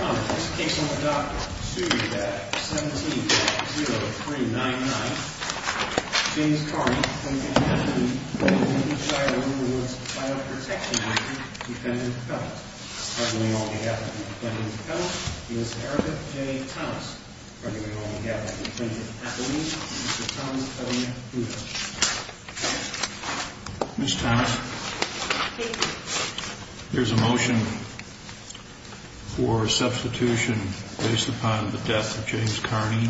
Ron, this case on the Dock sued at 17.0399. James Carney, Lincolnshire County, Lincolnshire Rural Rights File Protection Agency, Defendant Appellant. Arguing on behalf of the Defendant Appellant, Ms. Erika J. Thomas. Arguing on behalf of the Defendant Appellant, Mr. Thomas Ellington. Ms. Thomas, there's a motion for substitution based upon the death of James Carney.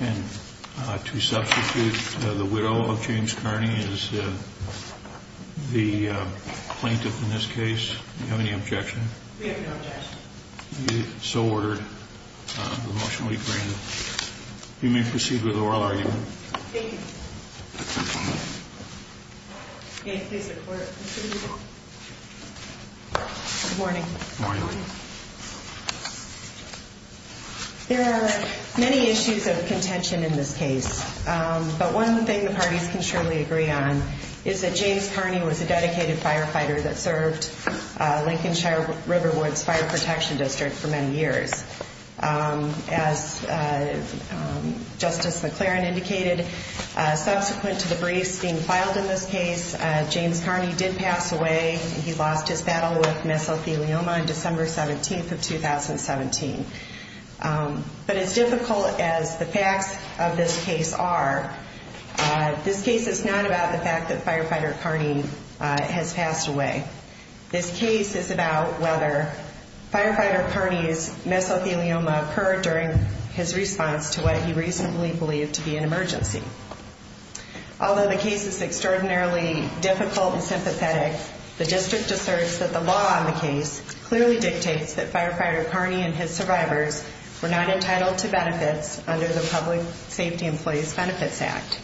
And to substitute the widow of James Carney as the plaintiff in this case. Do you have any objection? We have no objection. So ordered. The motion will be granted. You may proceed with the oral argument. Thank you. Good morning. There are many issues of contention in this case. But one thing the parties can surely agree on is that James Carney was a dedicated firefighter that served Lincolnshire Riverwoods Fire Protection District for many years. As Justice McLaren indicated, subsequent to the briefs being filed in this case, James Carney did pass away. He lost his battle with mesothelioma on December 17th of 2017. But as difficult as the facts of this case are, this case is not about the fact that Firefighter Carney has passed away. This case is about whether Firefighter Carney's mesothelioma occurred during his response to what he reasonably believed to be an emergency. Although the case is extraordinarily difficult and sympathetic, the district asserts that the law on the case clearly dictates that Firefighter Carney and his survivors were not entitled to benefits under the Public Safety Employees Benefits Act.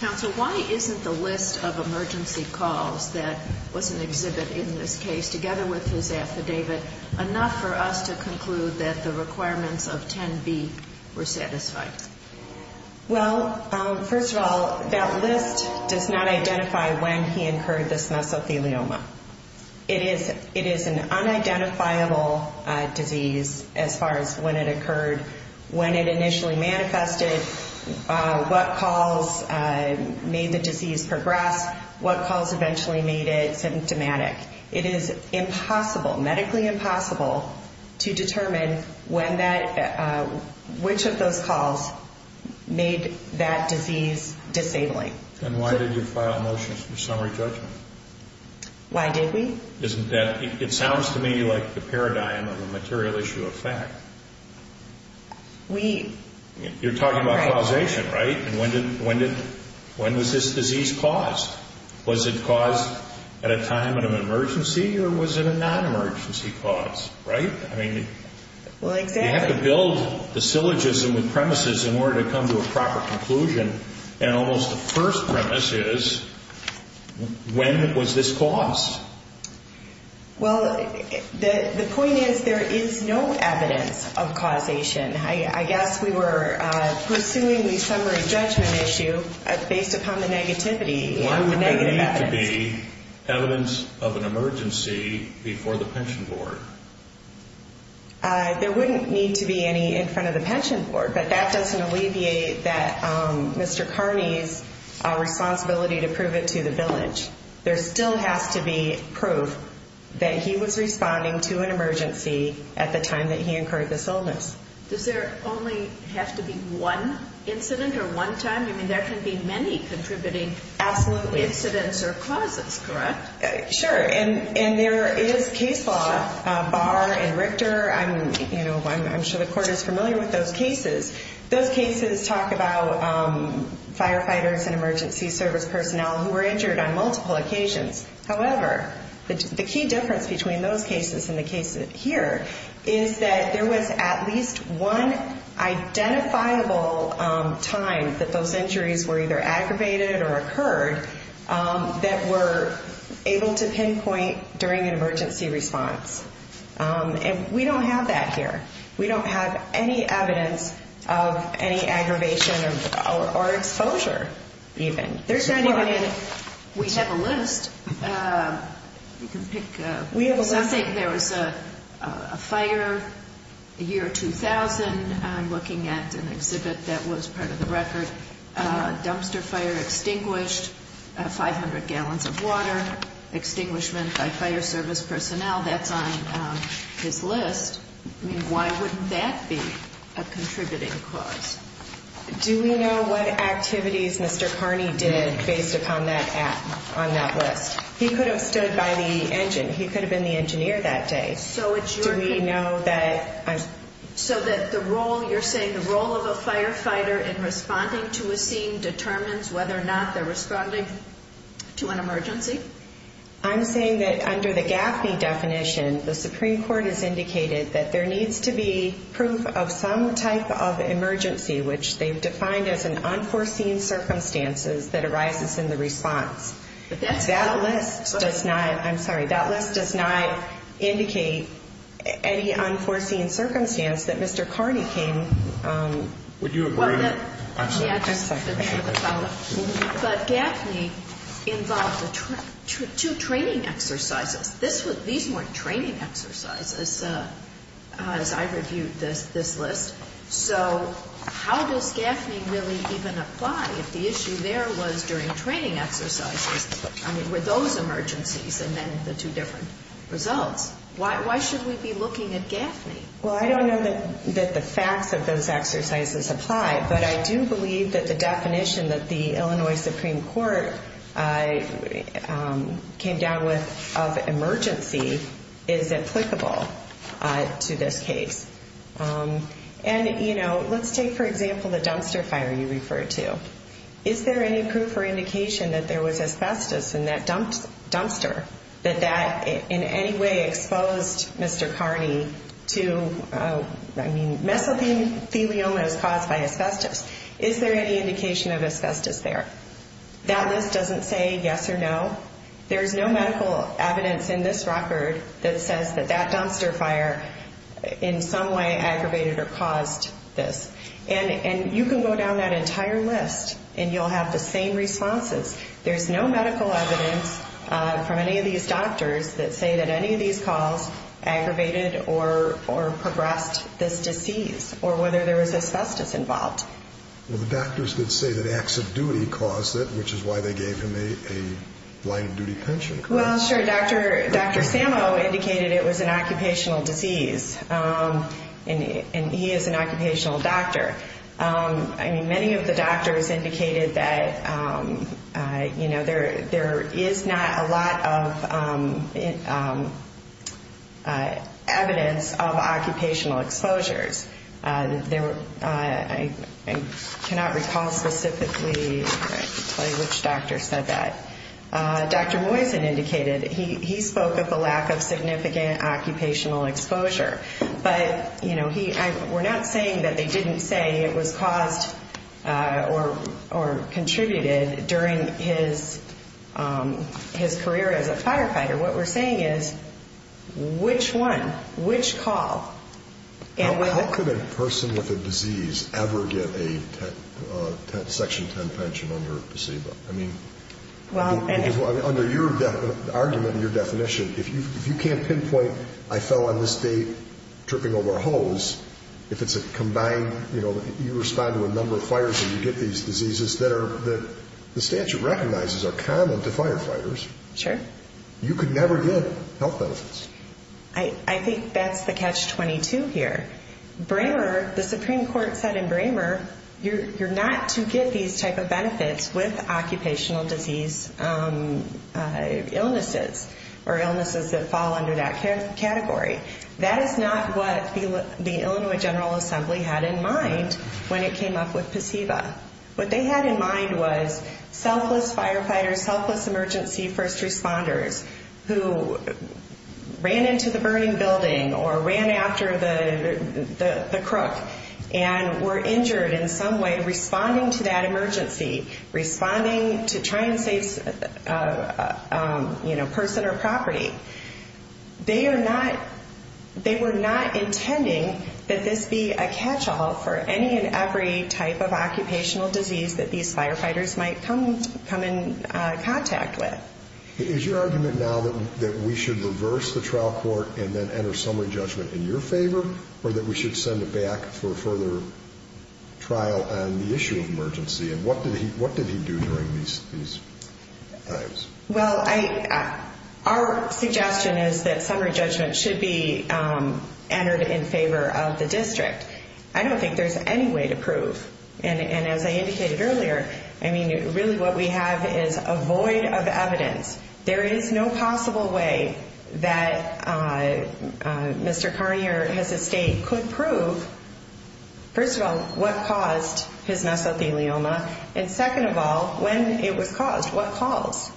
Counsel, why isn't the list of emergency calls that was an exhibit in this case, together with his affidavit, enough for us to conclude that the requirements of 10B were satisfied? Well, first of all, that list does not identify when he incurred this mesothelioma. It is an unidentifiable disease as far as when it occurred, when it initially manifested, what calls made the disease progress, what calls eventually made it symptomatic. It is impossible, medically impossible, to determine when that – which of those calls made that disease disabling. And why did you file a motion for summary judgment? Why did we? Isn't that – it sounds to me like the paradigm of a material issue of fact. We – You're talking about causation, right? And when did – when was this disease caused? Was it caused at a time of an emergency or was it a non-emergency cause, right? I mean – Well, exactly. You have to build the syllogism, the premises, in order to come to a proper conclusion. And almost the first premise is, when was this caused? Well, the point is there is no evidence of causation. I guess we were pursuing the summary judgment issue based upon the negativity and the negative evidence. Why would there need to be evidence of an emergency before the pension board? There wouldn't need to be any in front of the pension board, but that doesn't alleviate that – Mr. Carney's responsibility to prove it to the village. There still has to be proof that he was responding to an emergency at the time that he incurred this illness. Does there only have to be one incident or one time? I mean, there can be many contributing – Absolutely. – incidents or causes, correct? Sure. And there is case law. Barr and Richter, I'm – you know, I'm sure the court is familiar with those cases. Those cases talk about firefighters and emergency service personnel who were injured on multiple occasions. However, the key difference between those cases and the cases here is that there was at least one identifiable time that those injuries were either aggravated or occurred that were able to pinpoint during an emergency response. And we don't have that here. We don't have any evidence of any aggravation or exposure even. There's not even a – We have a list. You can pick – We have a list. Let's say there was a fire, the year 2000. I'm looking at an exhibit that was part of the record. Dumpster fire extinguished, 500 gallons of water, extinguishment by fire service personnel. That's on his list. I mean, why wouldn't that be a contributing cause? Do we know what activities Mr. Carney did based upon that – on that list? He could have stood by the engine. He could have been the engineer that day. So it's your – Do we know that – So that the role – you're saying the role of a firefighter in responding to a scene determines whether or not they're responding to an emergency? I'm saying that under the Gaffney definition, the Supreme Court has indicated that there needs to be proof of some type of emergency, which they've defined as an unforeseen circumstances that arises in the response. But that's – That list does not – I'm sorry. That list does not indicate any unforeseen circumstance that Mr. Carney came – Would you agree? I'm sorry. Yeah, just a second. But Gaffney involved two training exercises. These weren't training exercises as I reviewed this list. So how does Gaffney really even apply if the issue there was during training exercises? I mean, were those emergencies and then the two different results? Why should we be looking at Gaffney? Well, I don't know that the facts of those exercises apply, but I do believe that the definition that the Illinois Supreme Court came down with of emergency is applicable to this case. And, you know, let's take, for example, the dumpster fire you referred to. Is there any proof or indication that there was asbestos in that dumpster, that that in any way exposed Mr. Carney to – I mean, mesothelioma is caused by asbestos. Is there any indication of asbestos there? That list doesn't say yes or no. There is no medical evidence in this record that says that that dumpster fire in some way aggravated or caused this. And you can go down that entire list and you'll have the same responses. There's no medical evidence from any of these doctors that say that any of these calls aggravated or progressed this disease or whether there was asbestos involved. Well, the doctors did say that acts of duty caused it, which is why they gave him a blind duty pension. Well, sure. Dr. Sammo indicated it was an occupational disease, and he is an occupational doctor. I mean, many of the doctors indicated that, you know, there is not a lot of evidence of occupational exposures. I cannot recall specifically which doctor said that. Dr. Moisen indicated he spoke of a lack of significant occupational exposure. But, you know, we're not saying that they didn't say it was caused or contributed during his career as a firefighter. What we're saying is which one, which call? How could a person with a disease ever get a Section 10 pension under a placebo? Under your argument and your definition, if you can't pinpoint, I fell on this day tripping over a hose, if it's a combined, you know, you respond to a number of fires and you get these diseases that the statute recognizes are common to firefighters. Sure. You could never get health benefits. I think that's the catch-22 here. Bramer, the Supreme Court said in Bramer, you're not to get these type of benefits with occupational disease illnesses or illnesses that fall under that category. That is not what the Illinois General Assembly had in mind when it came up with placebo. What they had in mind was selfless firefighters, selfless emergency first responders who ran into the burning building or ran after the crook and were injured in some way responding to that emergency, responding to try and save, you know, person or property. They are not, they were not intending that this be a catch-all for any and every type of occupational disease. That these firefighters might come in contact with. Is your argument now that we should reverse the trial court and then enter summary judgment in your favor? Or that we should send it back for a further trial on the issue of emergency? And what did he do during these times? Well, our suggestion is that summary judgment should be entered in favor of the district. I don't think there's any way to prove, and as I indicated earlier, I mean, really what we have is a void of evidence. There is no possible way that Mr. Carney or his estate could prove, first of all, what caused his mesothelioma, and second of all, when it was caused, what caused.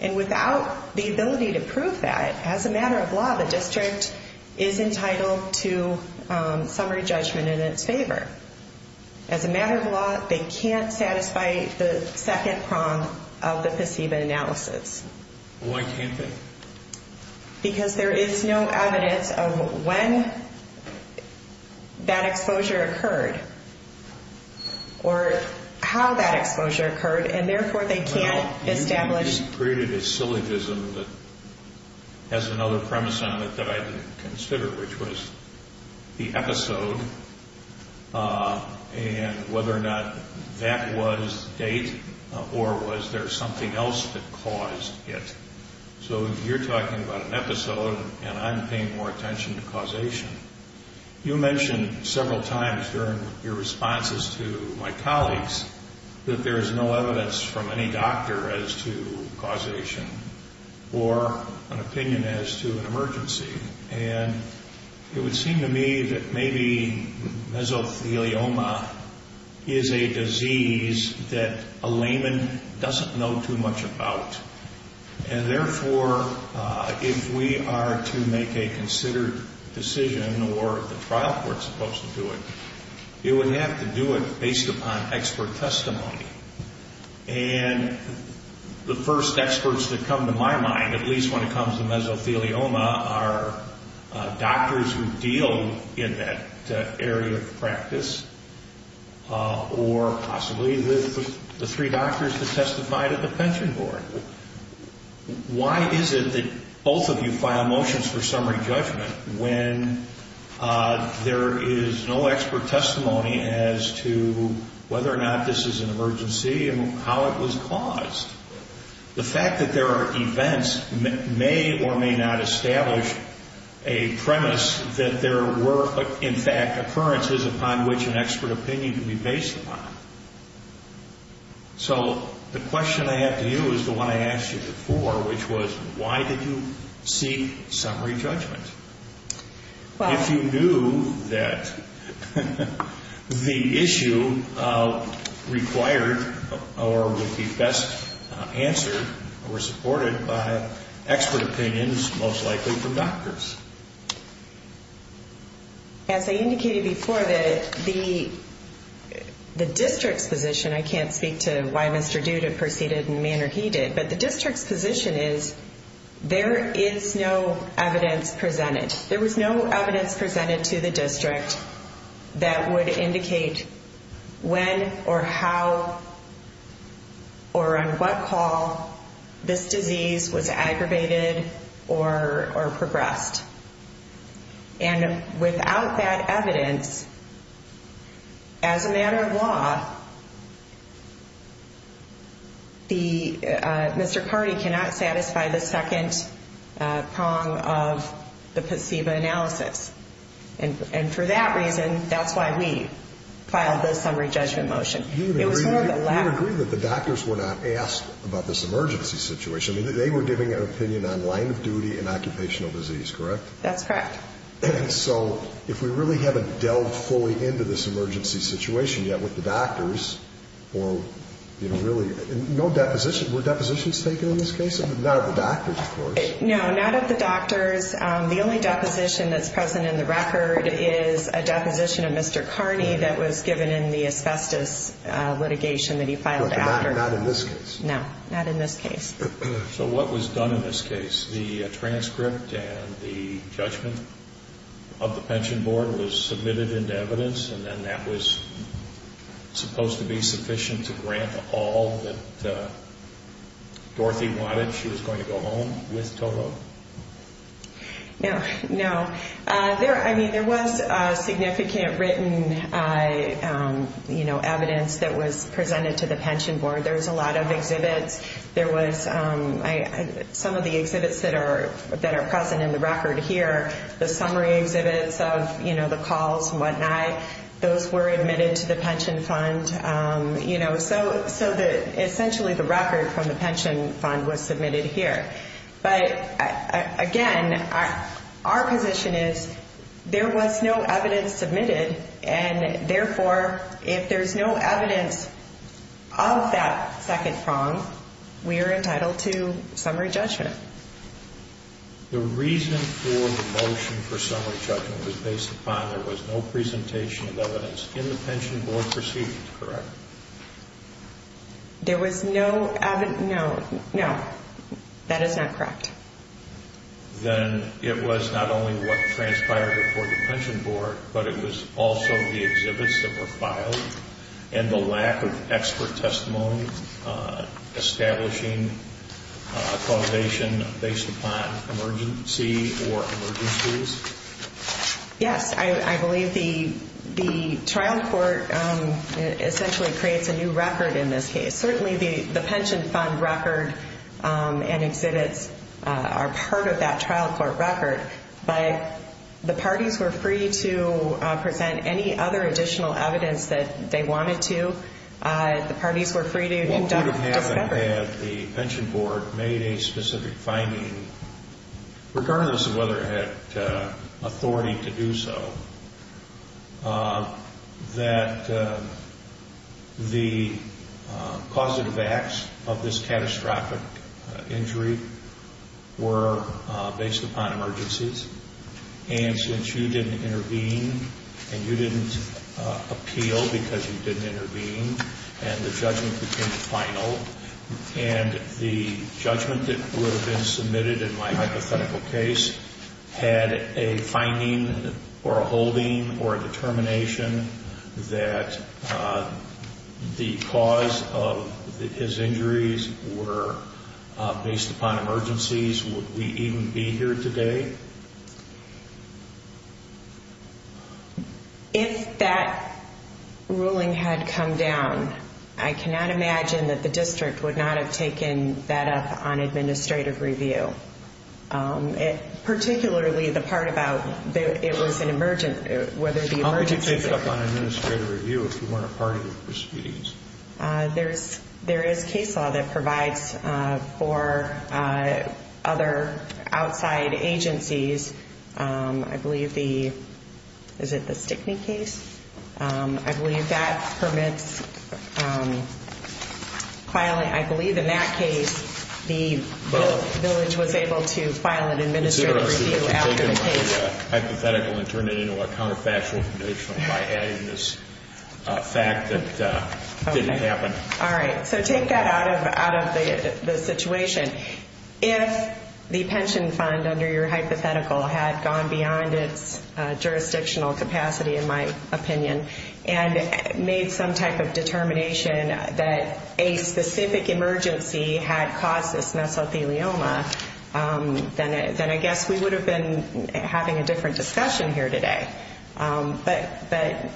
And without the ability to prove that, as a matter of law, the district is entitled to summary judgment in its favor. As a matter of law, they can't satisfy the second prong of the placebo analysis. Why can't they? Because there is no evidence of when that exposure occurred or how that exposure occurred, and therefore they can't establish. Well, you just created a syllogism that has another premise on it that I didn't consider, which was the episode and whether or not that was the date or was there something else that caused it. So you're talking about an episode, and I'm paying more attention to causation. You mentioned several times during your responses to my colleagues that there is no evidence from any doctor as to causation or an opinion as to an emergency, and it would seem to me that maybe mesothelioma is a disease that a layman doesn't know too much about, and therefore if we are to make a considered decision or the trial court is supposed to do it, it would have to do it based upon expert testimony. And the first experts that come to my mind, at least when it comes to mesothelioma, are doctors who deal in that area of practice or possibly the three doctors that testified at the pension board. Why is it that both of you file motions for summary judgment when there is no expert testimony as to whether or not this is an emergency and how it was caused? The fact that there are events may or may not establish a premise that there were, in fact, occurrences upon which an expert opinion could be based upon. So the question I have to you is the one I asked you before, which was why did you seek summary judgment? If you knew that the issue required or would be best answered or supported by expert opinions, most likely from doctors. As I indicated before, the district's position, I can't speak to why Mr. Duda proceeded in the manner he did, but the district's position is there is no evidence presented. There was no evidence presented to the district that would indicate when or how or on what call this disease was aggravated or progressed. And without that evidence, as a matter of law, Mr. Carty cannot satisfy the second prong of the placebo analysis. And for that reason, that's why we filed the summary judgment motion. You would agree that the doctors were not asked about this emergency situation. That's correct. So if we really haven't delved fully into this emergency situation yet with the doctors, or really no deposition, were depositions taken in this case? Not of the doctors, of course. No, not of the doctors. The only deposition that's present in the record is a deposition of Mr. Carney that was given in the asbestos litigation that he filed after. Not in this case? No, not in this case. So what was done in this case? The transcript and the judgment of the pension board was submitted into evidence, and then that was supposed to be sufficient to grant all that Dorothy wanted? She was going to go home with Toto? No. I mean, there was significant written evidence that was presented to the pension board. There was a lot of exhibits. Some of the exhibits that are present in the record here, the summary exhibits of the calls and whatnot, those were admitted to the pension fund. So essentially the record from the pension fund was submitted here. But again, our position is there was no evidence submitted, and therefore if there's no evidence of that second prong, we are entitled to summary judgment. The reason for the motion for summary judgment was based upon there was no presentation of evidence in the pension board proceedings, correct? There was no evidence, no, no. That is not correct. Then it was not only what transpired before the pension board, but it was also the exhibits that were filed, and the lack of expert testimony establishing causation based upon emergency or emergencies? Yes. I believe the trial court essentially creates a new record in this case. Certainly the pension fund record and exhibits are part of that trial court record, but the parties were free to present any other additional evidence that they wanted to. The parties were free to conduct discovery. Had the pension board made a specific finding, regardless of whether it had authority to do so, that the causative acts of this catastrophic injury were based upon emergencies, and since you didn't intervene, and you didn't appeal because you didn't intervene, and the judgment became final, and the judgment that would have been submitted in my hypothetical case had a finding or a holding or a determination that the cause of his injuries were based upon emergencies, would we even be here today? If that ruling had come down, I cannot imagine that the district would not have taken that up on administrative review, particularly the part about it was an emergency. How could you take it up on administrative review if you weren't a party to the proceedings? There is case law that provides for other outside agencies. I believe the, is it the Stickney case? I believe in that case the village was able to file an administrative review after the case. I'm going to take the hypothetical and turn it into a counterfactual condition by adding this fact that it didn't happen. All right. So take that out of the situation. If the pension fund under your hypothetical had gone beyond its jurisdictional capacity, in my opinion, and made some type of determination that a specific emergency had caused this mesothelioma, then I guess we would have been having a different discussion here today. But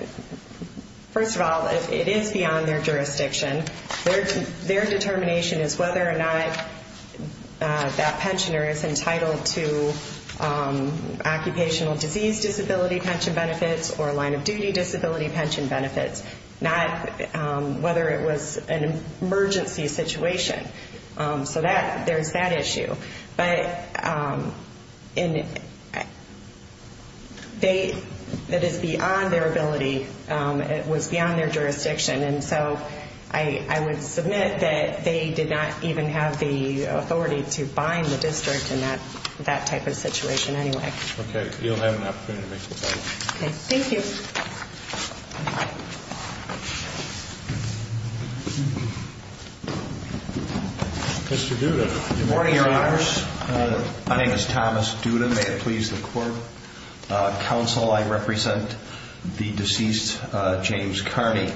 first of all, it is beyond their jurisdiction. Their determination is whether or not that pensioner is entitled to occupational disease disability pension benefits or line of duty disability pension benefits, not whether it was an emergency situation. So there's that issue. But that is beyond their ability. It was beyond their jurisdiction. And so I would submit that they did not even have the authority to bind the district in that type of situation anyway. Okay. You'll have an opportunity to make that comment. Mr. Duda. Good morning, Your Honors. My name is Thomas Duda. May it please the court. Counsel, I represent the deceased James Carney.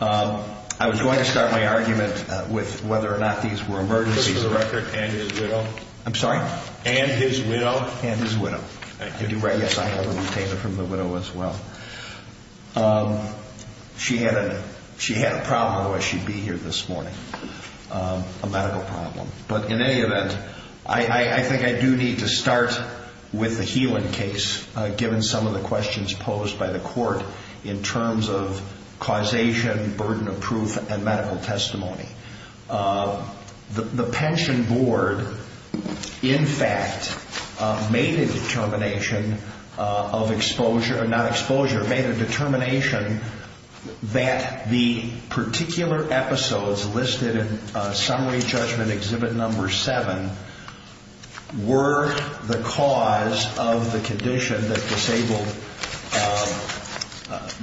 I was going to start my argument with whether or not these were emergencies. For the record, and his widow. I'm sorry? And his widow. And his widow. Yes, I have a retainer from the widow as well. She had a problem, otherwise she'd be here this morning. A medical problem. But in any event, I think I do need to start with the Healan case, given some of the questions posed by the court in terms of causation, burden of proof, and medical testimony. The pension board, in fact, made a determination of exposure, not exposure, made a determination that the particular episodes listed in Summary Judgment Exhibit No. 7 were the cause of the condition that disabled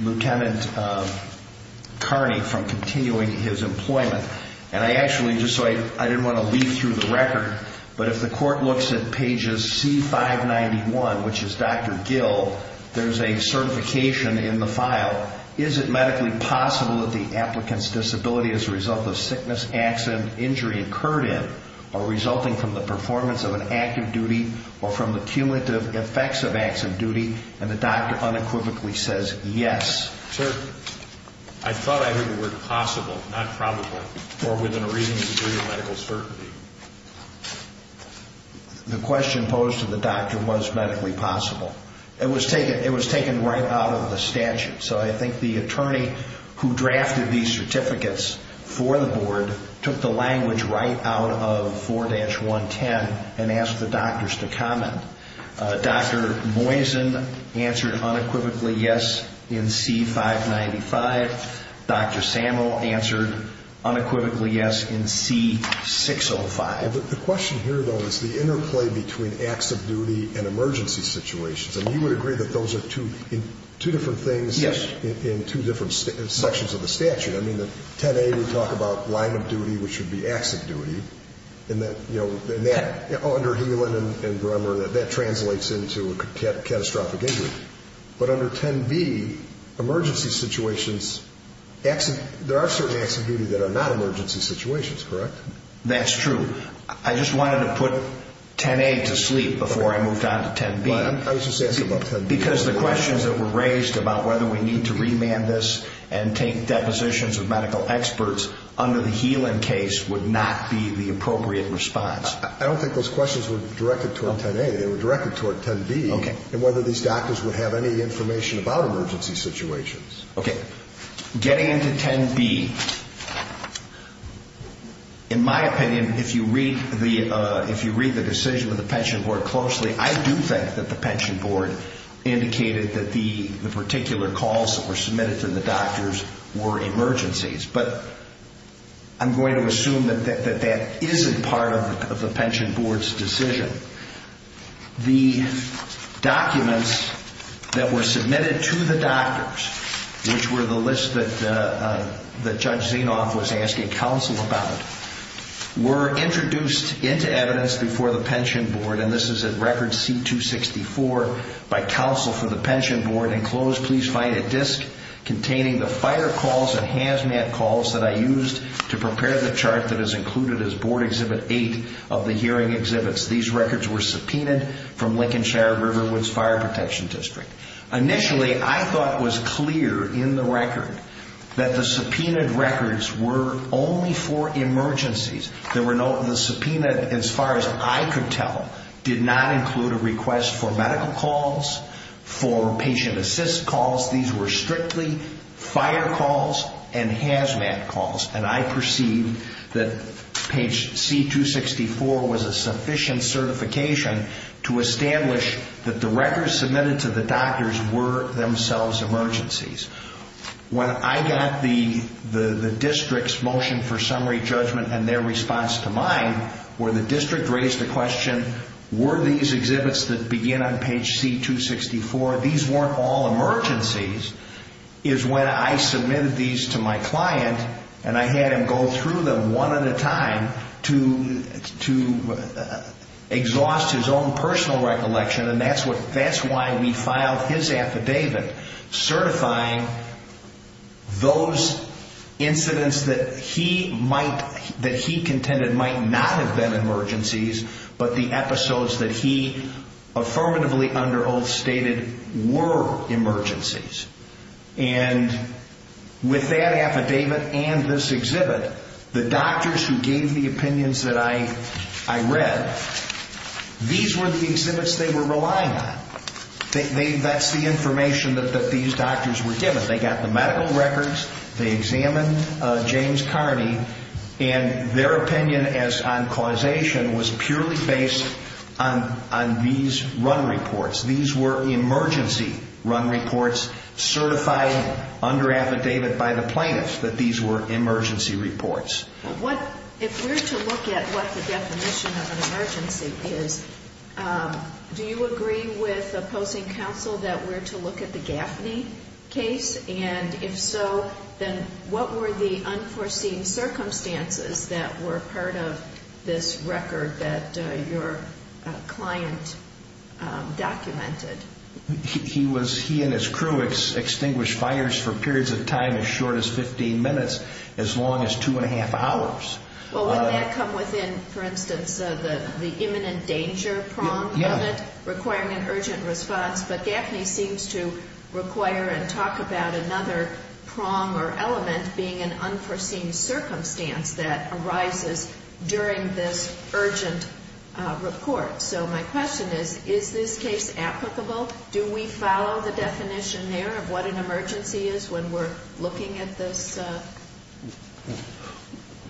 Lieutenant Carney from continuing his employment. And I actually, just so I didn't want to lead through the record, but if the court looks at pages C-591, which is Dr. Gill, there's a certification in the file. Is it medically possible that the applicant's disability is a result of sickness, accident, injury occurred in, or resulting from the performance of an active duty, or from the cumulative effects of active duty? And the doctor unequivocally says yes. Or within a reasonable degree of medical certainty. The question posed to the doctor was medically possible. It was taken right out of the statute. So I think the attorney who drafted these certificates for the board took the language right out of 4-110 and asked the doctors to comment. Dr. Moisen answered unequivocally yes in C-595. Dr. Samuel answered unequivocally yes in C-605. The question here, though, is the interplay between acts of duty and emergency situations. And you would agree that those are two different things in two different sections of the statute. I mean, in 10-A we talk about line of duty, which would be acts of duty. Under Helan and Bremer, that translates into a catastrophic injury. But under 10-B, emergency situations, there are certain acts of duty that are not emergency situations, correct? That's true. I just wanted to put 10-A to sleep before I moved on to 10-B. Because the questions that were raised about whether we need to remand this and take depositions with medical experts under the Helan case would not be the appropriate response. I don't think those questions were directed toward 10-A. They were directed toward 10-B in whether these doctors would have any information about emergency situations. Okay. Getting into 10-B. In my opinion, if you read the decision of the Pension Board closely, I do think that the Pension Board indicated that the particular calls that were submitted to the doctors were emergencies. But I'm going to assume that that isn't part of the Pension Board's decision. The documents that were submitted to the doctors, which were the list that Judge Kavanaugh gave, which Judge Zinoff was asking counsel about, were introduced into evidence before the Pension Board, and this is at Record C-264, by counsel for the Pension Board, enclosed, please find a disc containing the fire calls and hazmat calls that I used to prepare the chart that is included as Board Exhibit 8 of the hearing exhibits. These records were subpoenaed from Lincolnshire Riverwoods Fire Protection District. Initially, I thought it was clear in the record that the subpoenaed records were only for emergencies. The subpoena, as far as I could tell, did not include a request for medical calls, for patient assist calls. These were strictly fire calls and hazmat calls, and I perceived that Page C-264 was a sufficient certification to establish that the records submitted to the doctors were themselves emergencies. When I got the district's motion for summary judgment and their response to mine, where the district raised the question, were these exhibits that begin on Page C-264, these weren't all emergencies, is when I submitted these to my client, and I had him go through them one at a time to exhaust his own personal recollection, and that's why we filed his affidavit, certifying those incidents that he contended might not have been emergencies, but the episodes that he affirmatively under oath stated were emergencies. And with that affidavit and this exhibit, the doctors who gave the opinions that I read, these were the exhibits they were relying on. That's the information that these doctors were given. They got the medical records, they examined James Kearney, and their opinion on causation was purely based on these run reports. These were emergency run reports certified under affidavit by the plaintiffs that these were emergency reports. If we're to look at what the definition of an emergency is, do you agree with opposing counsel that we're to look at the Gaffney case? And if so, then what were the unforeseen circumstances that were part of this record that your client documented? He and his crew extinguished fires for periods of time as short as 15 minutes, as long as two and a half hours. Well, wouldn't that come within, for instance, the imminent danger prong of it, requiring an urgent response? But Gaffney seems to require and talk about another prong or element being an unforeseen circumstance that arises during this urgent report. So my question is, is this case applicable? Do we follow the definition there of what an emergency is when we're looking at this?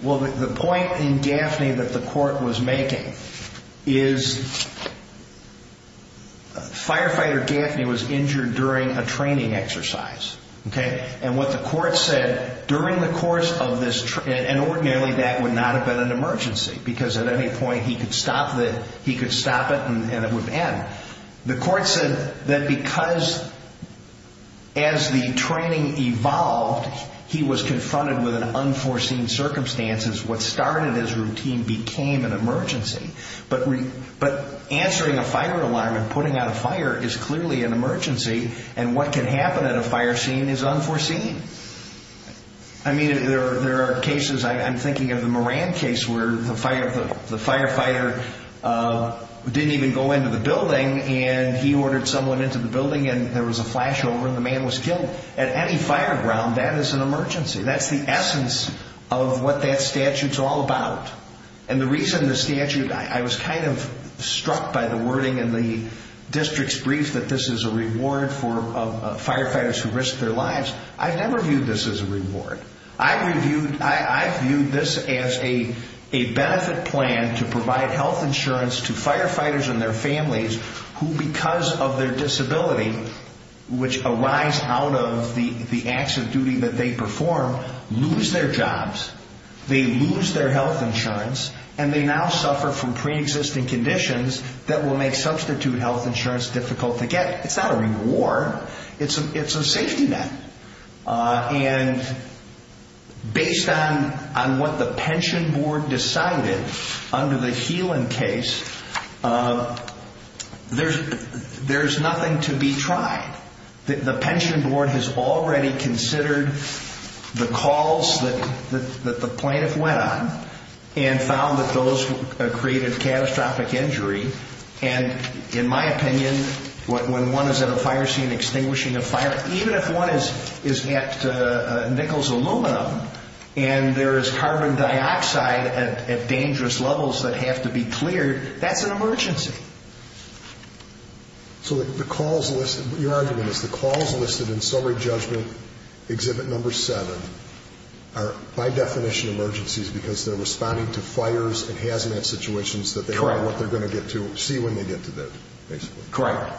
Well, the point in Gaffney that the court was making is firefighter Gaffney was injured during a training exercise. And what the court said during the course of this training, and ordinarily that would not have been an emergency because at any point he could stop it and it would end. The court said that because as the training evolved, he was confronted with an unforeseen circumstance. But answering a fire alarm and putting out a fire is clearly an emergency, and what can happen at a fire scene is unforeseen. I mean, there are cases, I'm thinking of the Moran case where the firefighter didn't even go into the building and he ordered someone into the building and there was a flashover and the man was killed. At any fire ground, that is an emergency. That's the essence of what that statute's all about. And the reason the statute, I was kind of struck by the wording in the district's brief that this is a reward for firefighters who risk their lives. I've never viewed this as a reward. I've viewed this as a benefit plan to provide health insurance to firefighters and their families who, because of their disability, which arise out of the acts of duty that they perform, lose their jobs, they lose their health insurance, and they now suffer from pre-existing conditions that will make substitute health insurance difficult to get. It's not a reward. It's a safety net. And based on what the pension board decided under the Healan case, there's nothing to be tried. The pension board has already considered the calls that the plaintiff went on and found that those created catastrophic injury. And in my opinion, when one is at a fire scene extinguishing a fire, even if one is at nickels aluminum and there is carbon dioxide at dangerous levels that have to be cleared, that's an emergency. So the calls listed, your argument is the calls listed in summary judgment exhibit number seven are by definition emergencies because they're responding to fires and hazmat situations that they don't know what they're going to get to, see when they get to that, basically. Correct.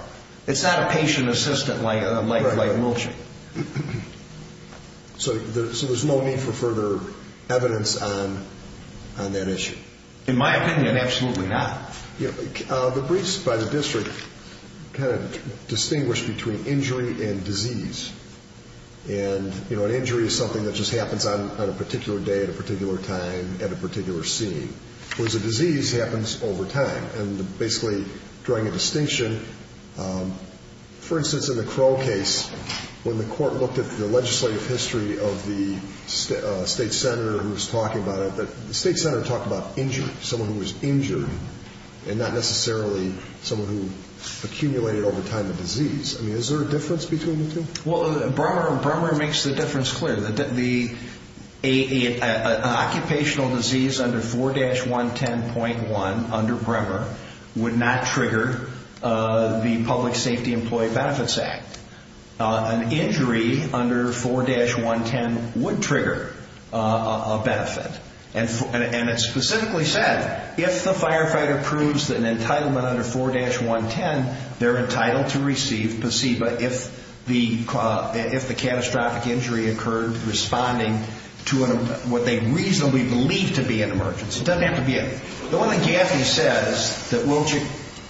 It's not a patient assistant like Wiltshire. So there's no need for further evidence on that issue? In my opinion, absolutely not. The briefs by the district kind of distinguish between injury and disease. And an injury is something that just happens on a particular day at a particular time at a particular scene, whereas a disease happens over time. And basically drawing a distinction, for instance, in the Crow case, when the court looked at the legislative history of the state senator who was talking about it, the state senator talked about injury, someone who was injured and not necessarily someone who accumulated over time a disease. I mean, is there a difference between the two? Well, Bremer makes the difference clear. An occupational disease under 4-110.1 under Bremer would not trigger the Public Safety Employee Benefits Act. An injury under 4-110 would trigger a benefit. And it specifically said, if the firefighter proves an entitlement under 4-110, they're entitled to receive placebo. If the catastrophic injury occurred responding to what they reasonably believe to be an emergency. It doesn't have to be. The one that Gaffney says that Wiltshire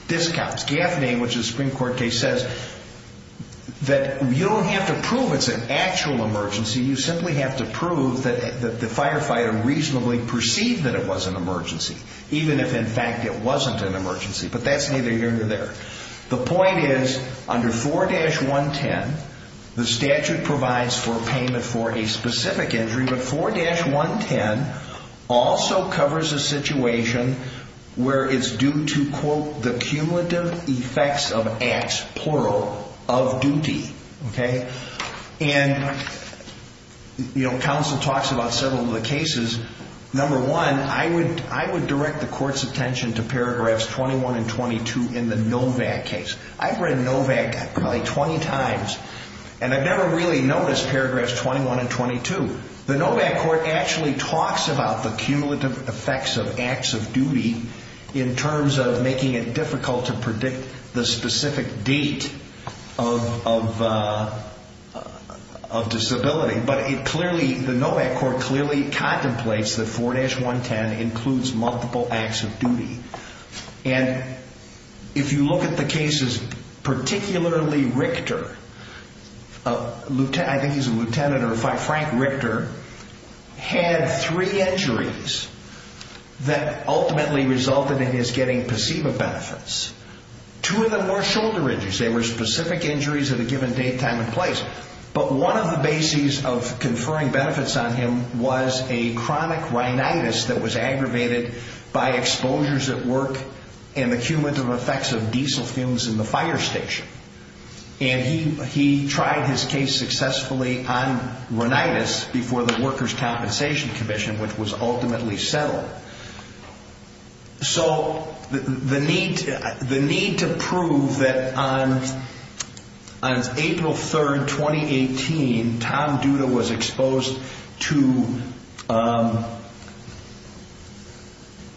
discounts, Gaffney, which is a Supreme Court case, says that you don't have to prove it's an actual emergency. You simply have to prove that the firefighter reasonably perceived that it was an emergency, even if in fact it wasn't an emergency. But that's neither here nor there. The point is, under 4-110, the statute provides for payment for a specific injury, but 4-110 also covers a situation where it's due to, quote, the cumulative effects of acts, plural, of duty. And counsel talks about several of the cases. Number one, I would direct the court's attention to paragraphs 21 and 22 in the Novak case. I've read Novak probably 20 times, and I've never really noticed paragraphs 21 and 22. The Novak court actually talks about the cumulative effects of acts of duty in terms of making it difficult to predict the specific date of disability. But it clearly, the Novak court clearly contemplates that 4-110 includes multiple acts of duty. And if you look at the cases, particularly Richter, I think he's a lieutenant, or Frank Richter, had three injuries that ultimately resulted in his getting placebo benefits. Two of them were shoulder injuries. They were specific injuries at a given date, time, and place. But one of the bases of conferring benefits on him was a chronic rhinitis that was aggravated by exposures at work and the cumulative effects of diesel fumes in the fire station. And he tried his case successfully on rhinitis before the Workers' Compensation Commission, which was ultimately settled. So the need to prove that on April 3, 2018, Tom Duda was exposed to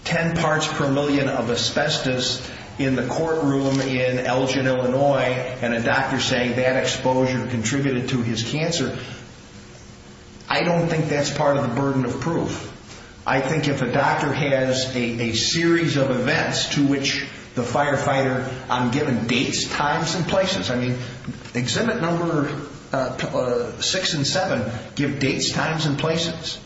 10 parts per million of asbestos in the courtroom in Elgin, Illinois, and a doctor saying that exposure contributed to his cancer, I don't think that's part of the burden of proof. I think if a doctor has a series of events to which the firefighter, I'm given dates, times, and places. I mean, exhibit number 6 and 7 give dates, times, and places.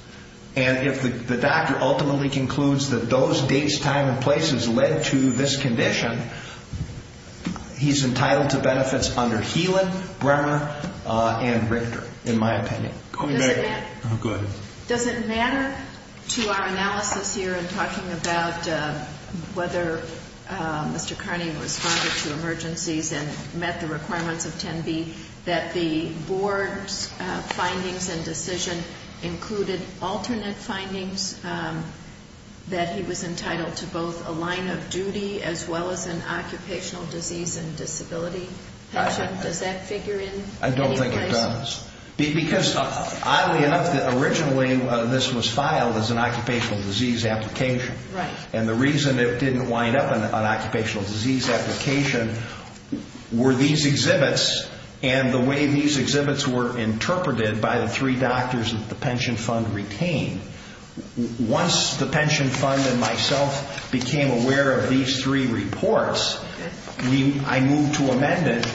And if the doctor ultimately concludes that those dates, time, and places led to this condition, he's entitled to benefits under Healan, Bremer, and Richter, in my opinion. Does it matter to our analysis here in talking about whether Mr. Carney responded to emergencies and met the requirements of 10B that the board's findings and decision included alternate findings that he was entitled to both a line of duty as well as an occupational disease and disability pension? Does that figure in? I don't think it does. Because, oddly enough, originally this was filed as an occupational disease application. And the reason it didn't wind up in an occupational disease application were these exhibits and the way these exhibits were interpreted by the three doctors that the pension fund retained. Once the pension fund and myself became aware of these three reports, I moved to amend it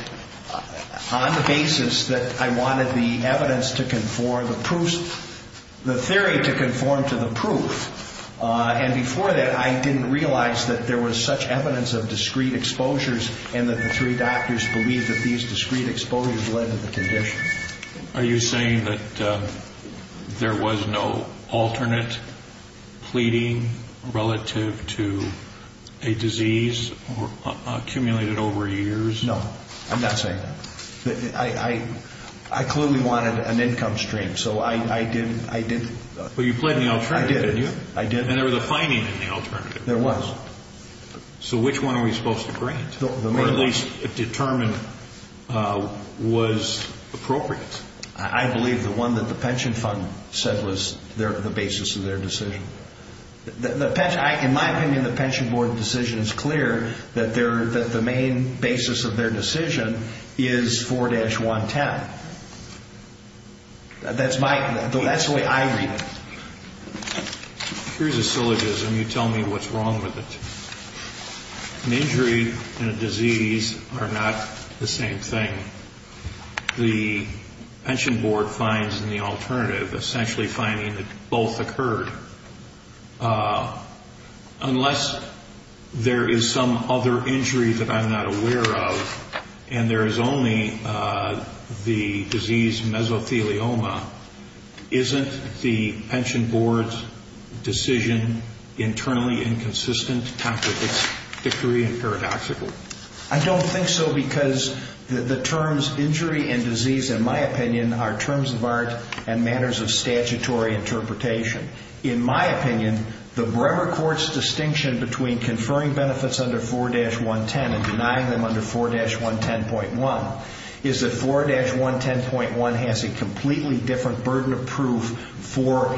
on the basis of the fact that it was an occupational disease application. On the basis that I wanted the evidence to conform, the proofs, the theory to conform to the proof. And before that, I didn't realize that there was such evidence of discrete exposures and that the three doctors believed that these discrete exposures led to the condition. Are you saying that there was no alternate pleading relative to a disease accumulated over years? No, I'm not saying that. I clearly wanted an income stream, so I did. But you pled in the alternative. I did. And there was a finding in the alternative. There was. So which one are we supposed to grant? Or at least determine was appropriate? I believe the one that the pension fund said was the basis of their decision. In my opinion, the pension board decision is clear that the main basis of their decision is 4-110. That's the way I read it. Here's a syllogism. You tell me what's wrong with it. An injury and a disease are not the same thing. The pension board finds in the alternative, essentially finding that both occurred. Unless there is some other injury that I'm not aware of and there is only the disease mesothelioma, isn't the pension board's decision internally inconsistent, tactically and paradoxically? I don't think so because the terms injury and disease, in my opinion, are terms of art and matters of statutory interpretation. In my opinion, the Bremer court's distinction between conferring benefits under 4-110 and denying them under 4-110.1 is that 4-110.1 has a completely different burden of proof for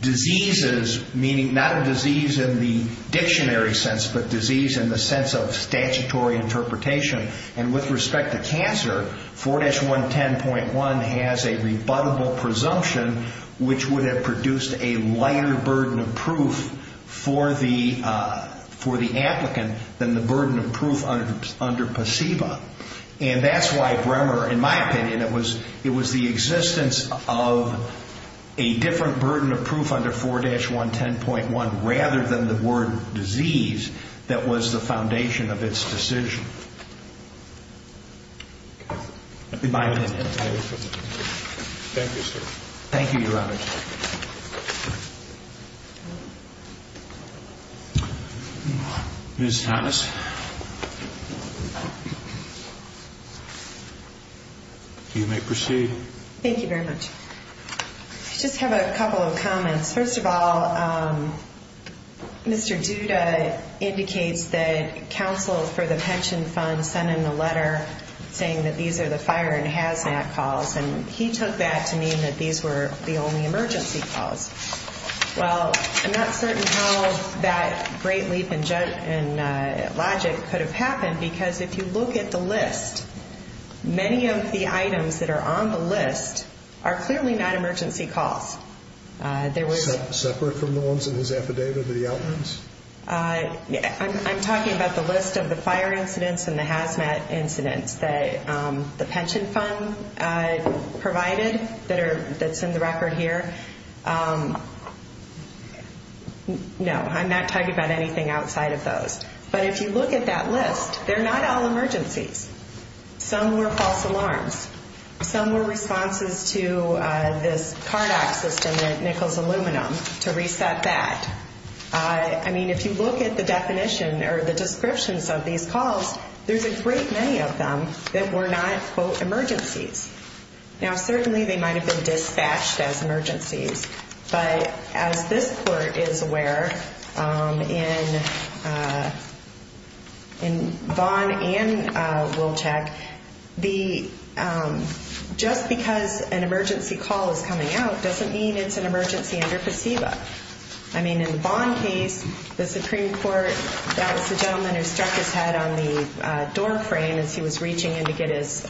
diseases, meaning not a disease in the dictionary sense, but disease in the sense of statutory interpretation. With respect to cancer, 4-110.1 has a rebuttable presumption, which would have produced a lighter burden of proof for the applicant than the burden of proof under placebo. And that's why Bremer, in my opinion, it was the existence of a different burden of proof under 4-110.1 rather than the word disease that was the foundation of its decision. In my opinion. Thank you, sir. Thank you, Your Honor. Ms. Thomas. You may proceed. Thank you very much. I just have a couple of comments. First of all, Mr. Duda indicates that counsel for the pension fund sent in a letter saying that these are the fire and hazmat calls, and he took that to mean that these were the only emergency calls. Well, I'm not certain how that great leap in logic could have happened because if you look at the list, many of the items that are on the list are clearly not emergency calls. Separate from the ones in his affidavit, the outlines? I'm talking about the list of the fire incidents and the hazmat incidents that the pension fund provided that's in the record here. No, I'm not talking about anything outside of those. But if you look at that list, they're not all emergencies. Some were false alarms. Some were responses to this card access to nickels aluminum to reset that. I mean, if you look at the definition or the descriptions of these calls, there's a great many of them that were not, quote, emergencies. Now, certainly they might have been dispatched as emergencies. But as this court is aware, in Vaughn and Wilczek, just because an emergency call is coming out doesn't mean it's an emergency under placebo. I mean, in the Vaughn case, the Supreme Court, that was the gentleman who struck his head on the doorframe as he was reaching in to get his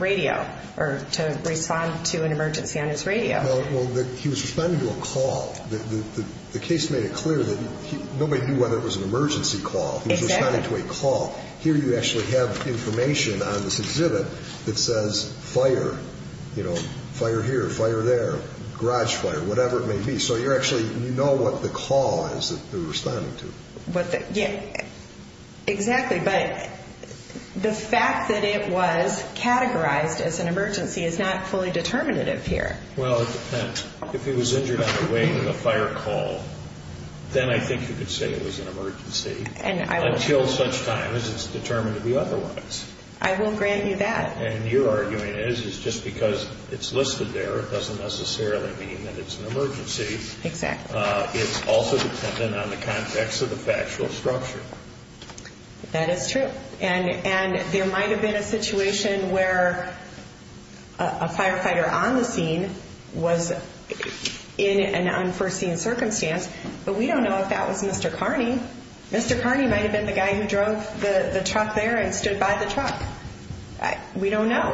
radio or to respond to an emergency on his radio. Well, he was responding to a call. The case made it clear that nobody knew whether it was an emergency call. He was responding to a call. Here you actually have information on this exhibit that says fire, you know, fire here, fire there, garage fire, whatever it may be. So you actually know what the call is that they're responding to. Yeah, exactly. But the fact that it was categorized as an emergency is not fully determinative here. If he was injured on the way to the fire call, then I think you could say it was an emergency until such time as it's determined to be otherwise. I won't grant you that. And your arguing is, is just because it's listed there, it doesn't necessarily mean that it's an emergency. Exactly. It's also dependent on the context of the factual structure. That is true. And there might have been a situation where a firefighter on the scene was in an unforeseen circumstance, but we don't know if that was Mr. Carney. Mr. Carney might have been the guy who drove the truck there and stood by the truck. We don't know.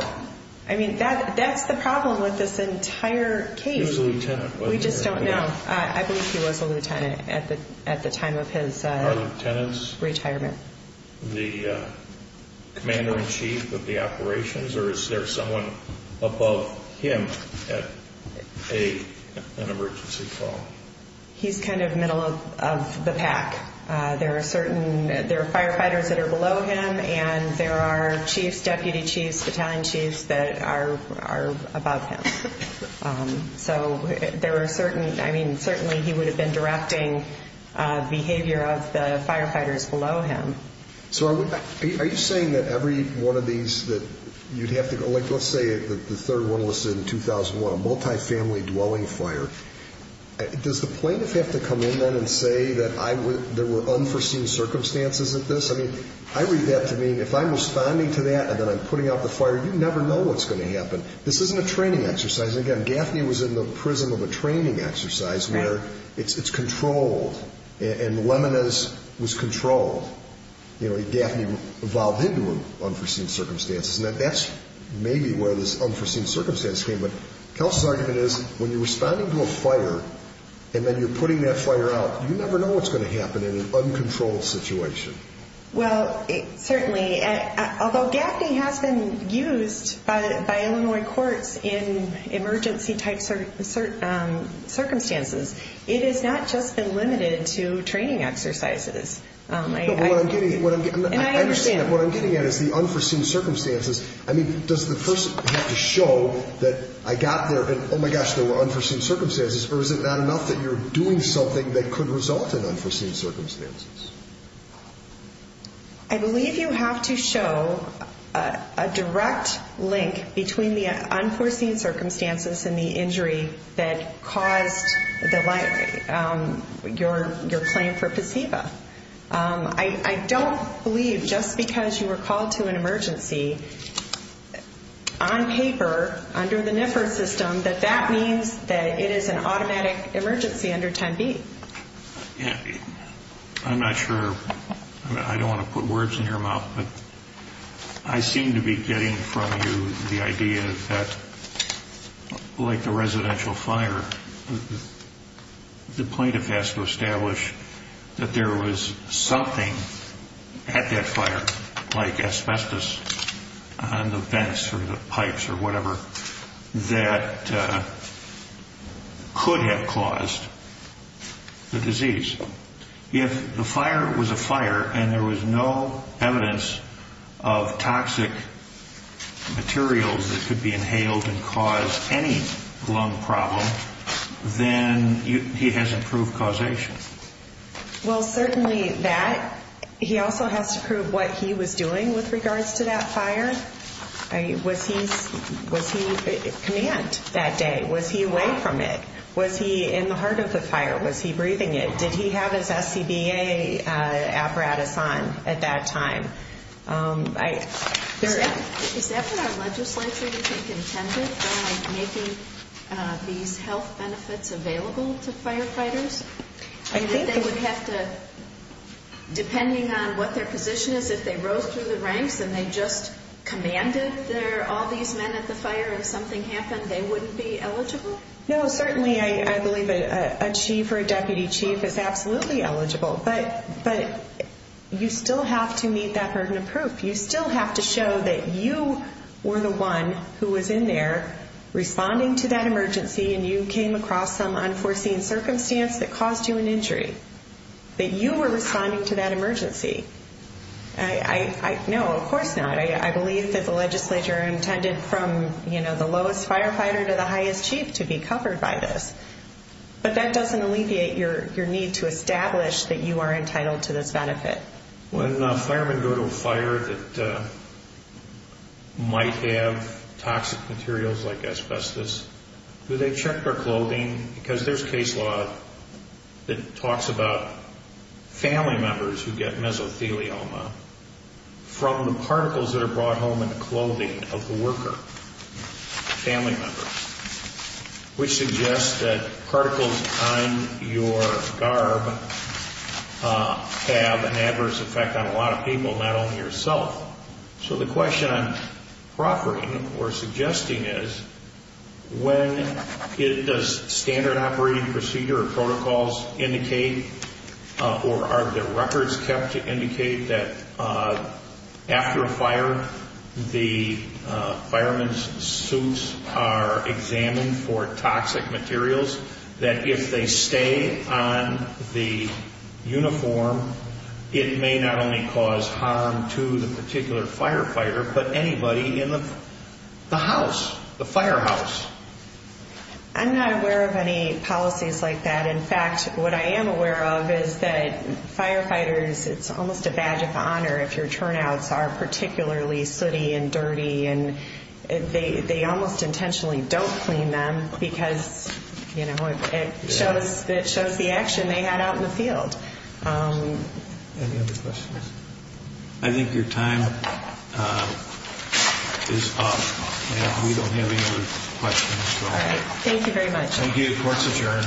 I mean, that's the problem with this entire case. He was a lieutenant, wasn't he? We just don't know. I believe he was a lieutenant at the time of his retirement. The commander in chief of the operations, or is there someone above him at an emergency call? He's kind of middle of the pack. There are firefighters that are below him, and there are chiefs, deputy chiefs, battalion chiefs that are above him. So there are certain, I mean, certainly he would have been directing behavior of the firefighters below him. So are you saying that every one of these that you'd have to go, like let's say the third one listed in 2001, a multifamily dwelling fire. Does the plaintiff have to come in then and say that there were unforeseen circumstances at this? I mean, I read that to mean, if I'm responding to that and then I'm putting out the fire, you never know what's going to happen. This isn't a training exercise. It's in the prism of a training exercise where it's controlled. And Lemina's was controlled. You know, Gaffney evolved into unforeseen circumstances, and that's maybe where this unforeseen circumstance came. But Kelce's argument is, when you're responding to a fire, and then you're putting that fire out, you never know what's going to happen in an uncontrolled situation. Well, certainly. Although Gaffney has been used by Illinois courts in emergency type circumstances, it has not just been limited to training exercises. What I'm getting at is the unforeseen circumstances. I mean, does the person have to show that I got there and oh my gosh, there were unforeseen circumstances, or is it not enough that you're doing something that could result in unforeseen circumstances? I believe you have to show a direct link between the unforeseen circumstances and the injury that caused your claim for placebo. I don't believe just because you were called to an emergency on paper under the NIFR system that that means that it is an automatic emergency under 10B. I'm not sure, I don't want to put words in your mouth, but I seem to be getting from you the idea that, like the residential fire, the plaintiff has to establish that there was something at that fire, like asbestos on the vents or the pipes or whatever, that could have caused the disease. If the fire was a fire and there was no evidence of toxic materials that could be inhaled and cause any lung problem, then he hasn't proved causation. Well, certainly that. He also has to prove what he was doing with regards to that fire. Was he command that day? Was he away from it? Was he in the heart of the fire? Was he breathing it? Did he have his SCBA apparatus on at that time? Is that what our legislature, you think, intended by making these health benefits available to firefighters? Depending on what their position is, if they rose through the ranks and they just commanded all these men at the fire and something happened, they wouldn't be eligible? No, certainly I believe a chief or a deputy chief is absolutely eligible, but you still have to meet that burden of proof. You still have to show that you were the one who was in there responding to that emergency and you came across some unforeseen circumstance that caused you an injury. That you were responding to that emergency. No, of course not. I believe that the legislature intended from the lowest firefighter to the highest chief to be covered by this. But that doesn't alleviate your need to establish that you are entitled to this benefit. When firemen go to a fire that might have toxic materials like asbestos, do they check their clothing? Because there's case law that talks about family members who get mesothelioma from the particles that are brought home in the clothing of the worker. Family members. Which suggests that particles on your garb have an adverse effect on a lot of people, not only yourself. So the question I'm proffering or suggesting is when does standard operating procedure or protocols indicate or are there records kept to indicate that after a fire the fireman's suits are examined for toxic materials? That if they stay on the uniform it may not only cause harm to the particular firefighter but anybody in the house, the firehouse. I'm not aware of any policies like that. In fact, what I am aware of is that firefighters, it's almost a badge of honor if your turnouts are particularly sooty and dirty. They almost intentionally don't clean them because it shows the action they had out in the field. Any other questions? I think your time is up. We don't have any other questions. Thank you very much. Thank you. Court's adjourned.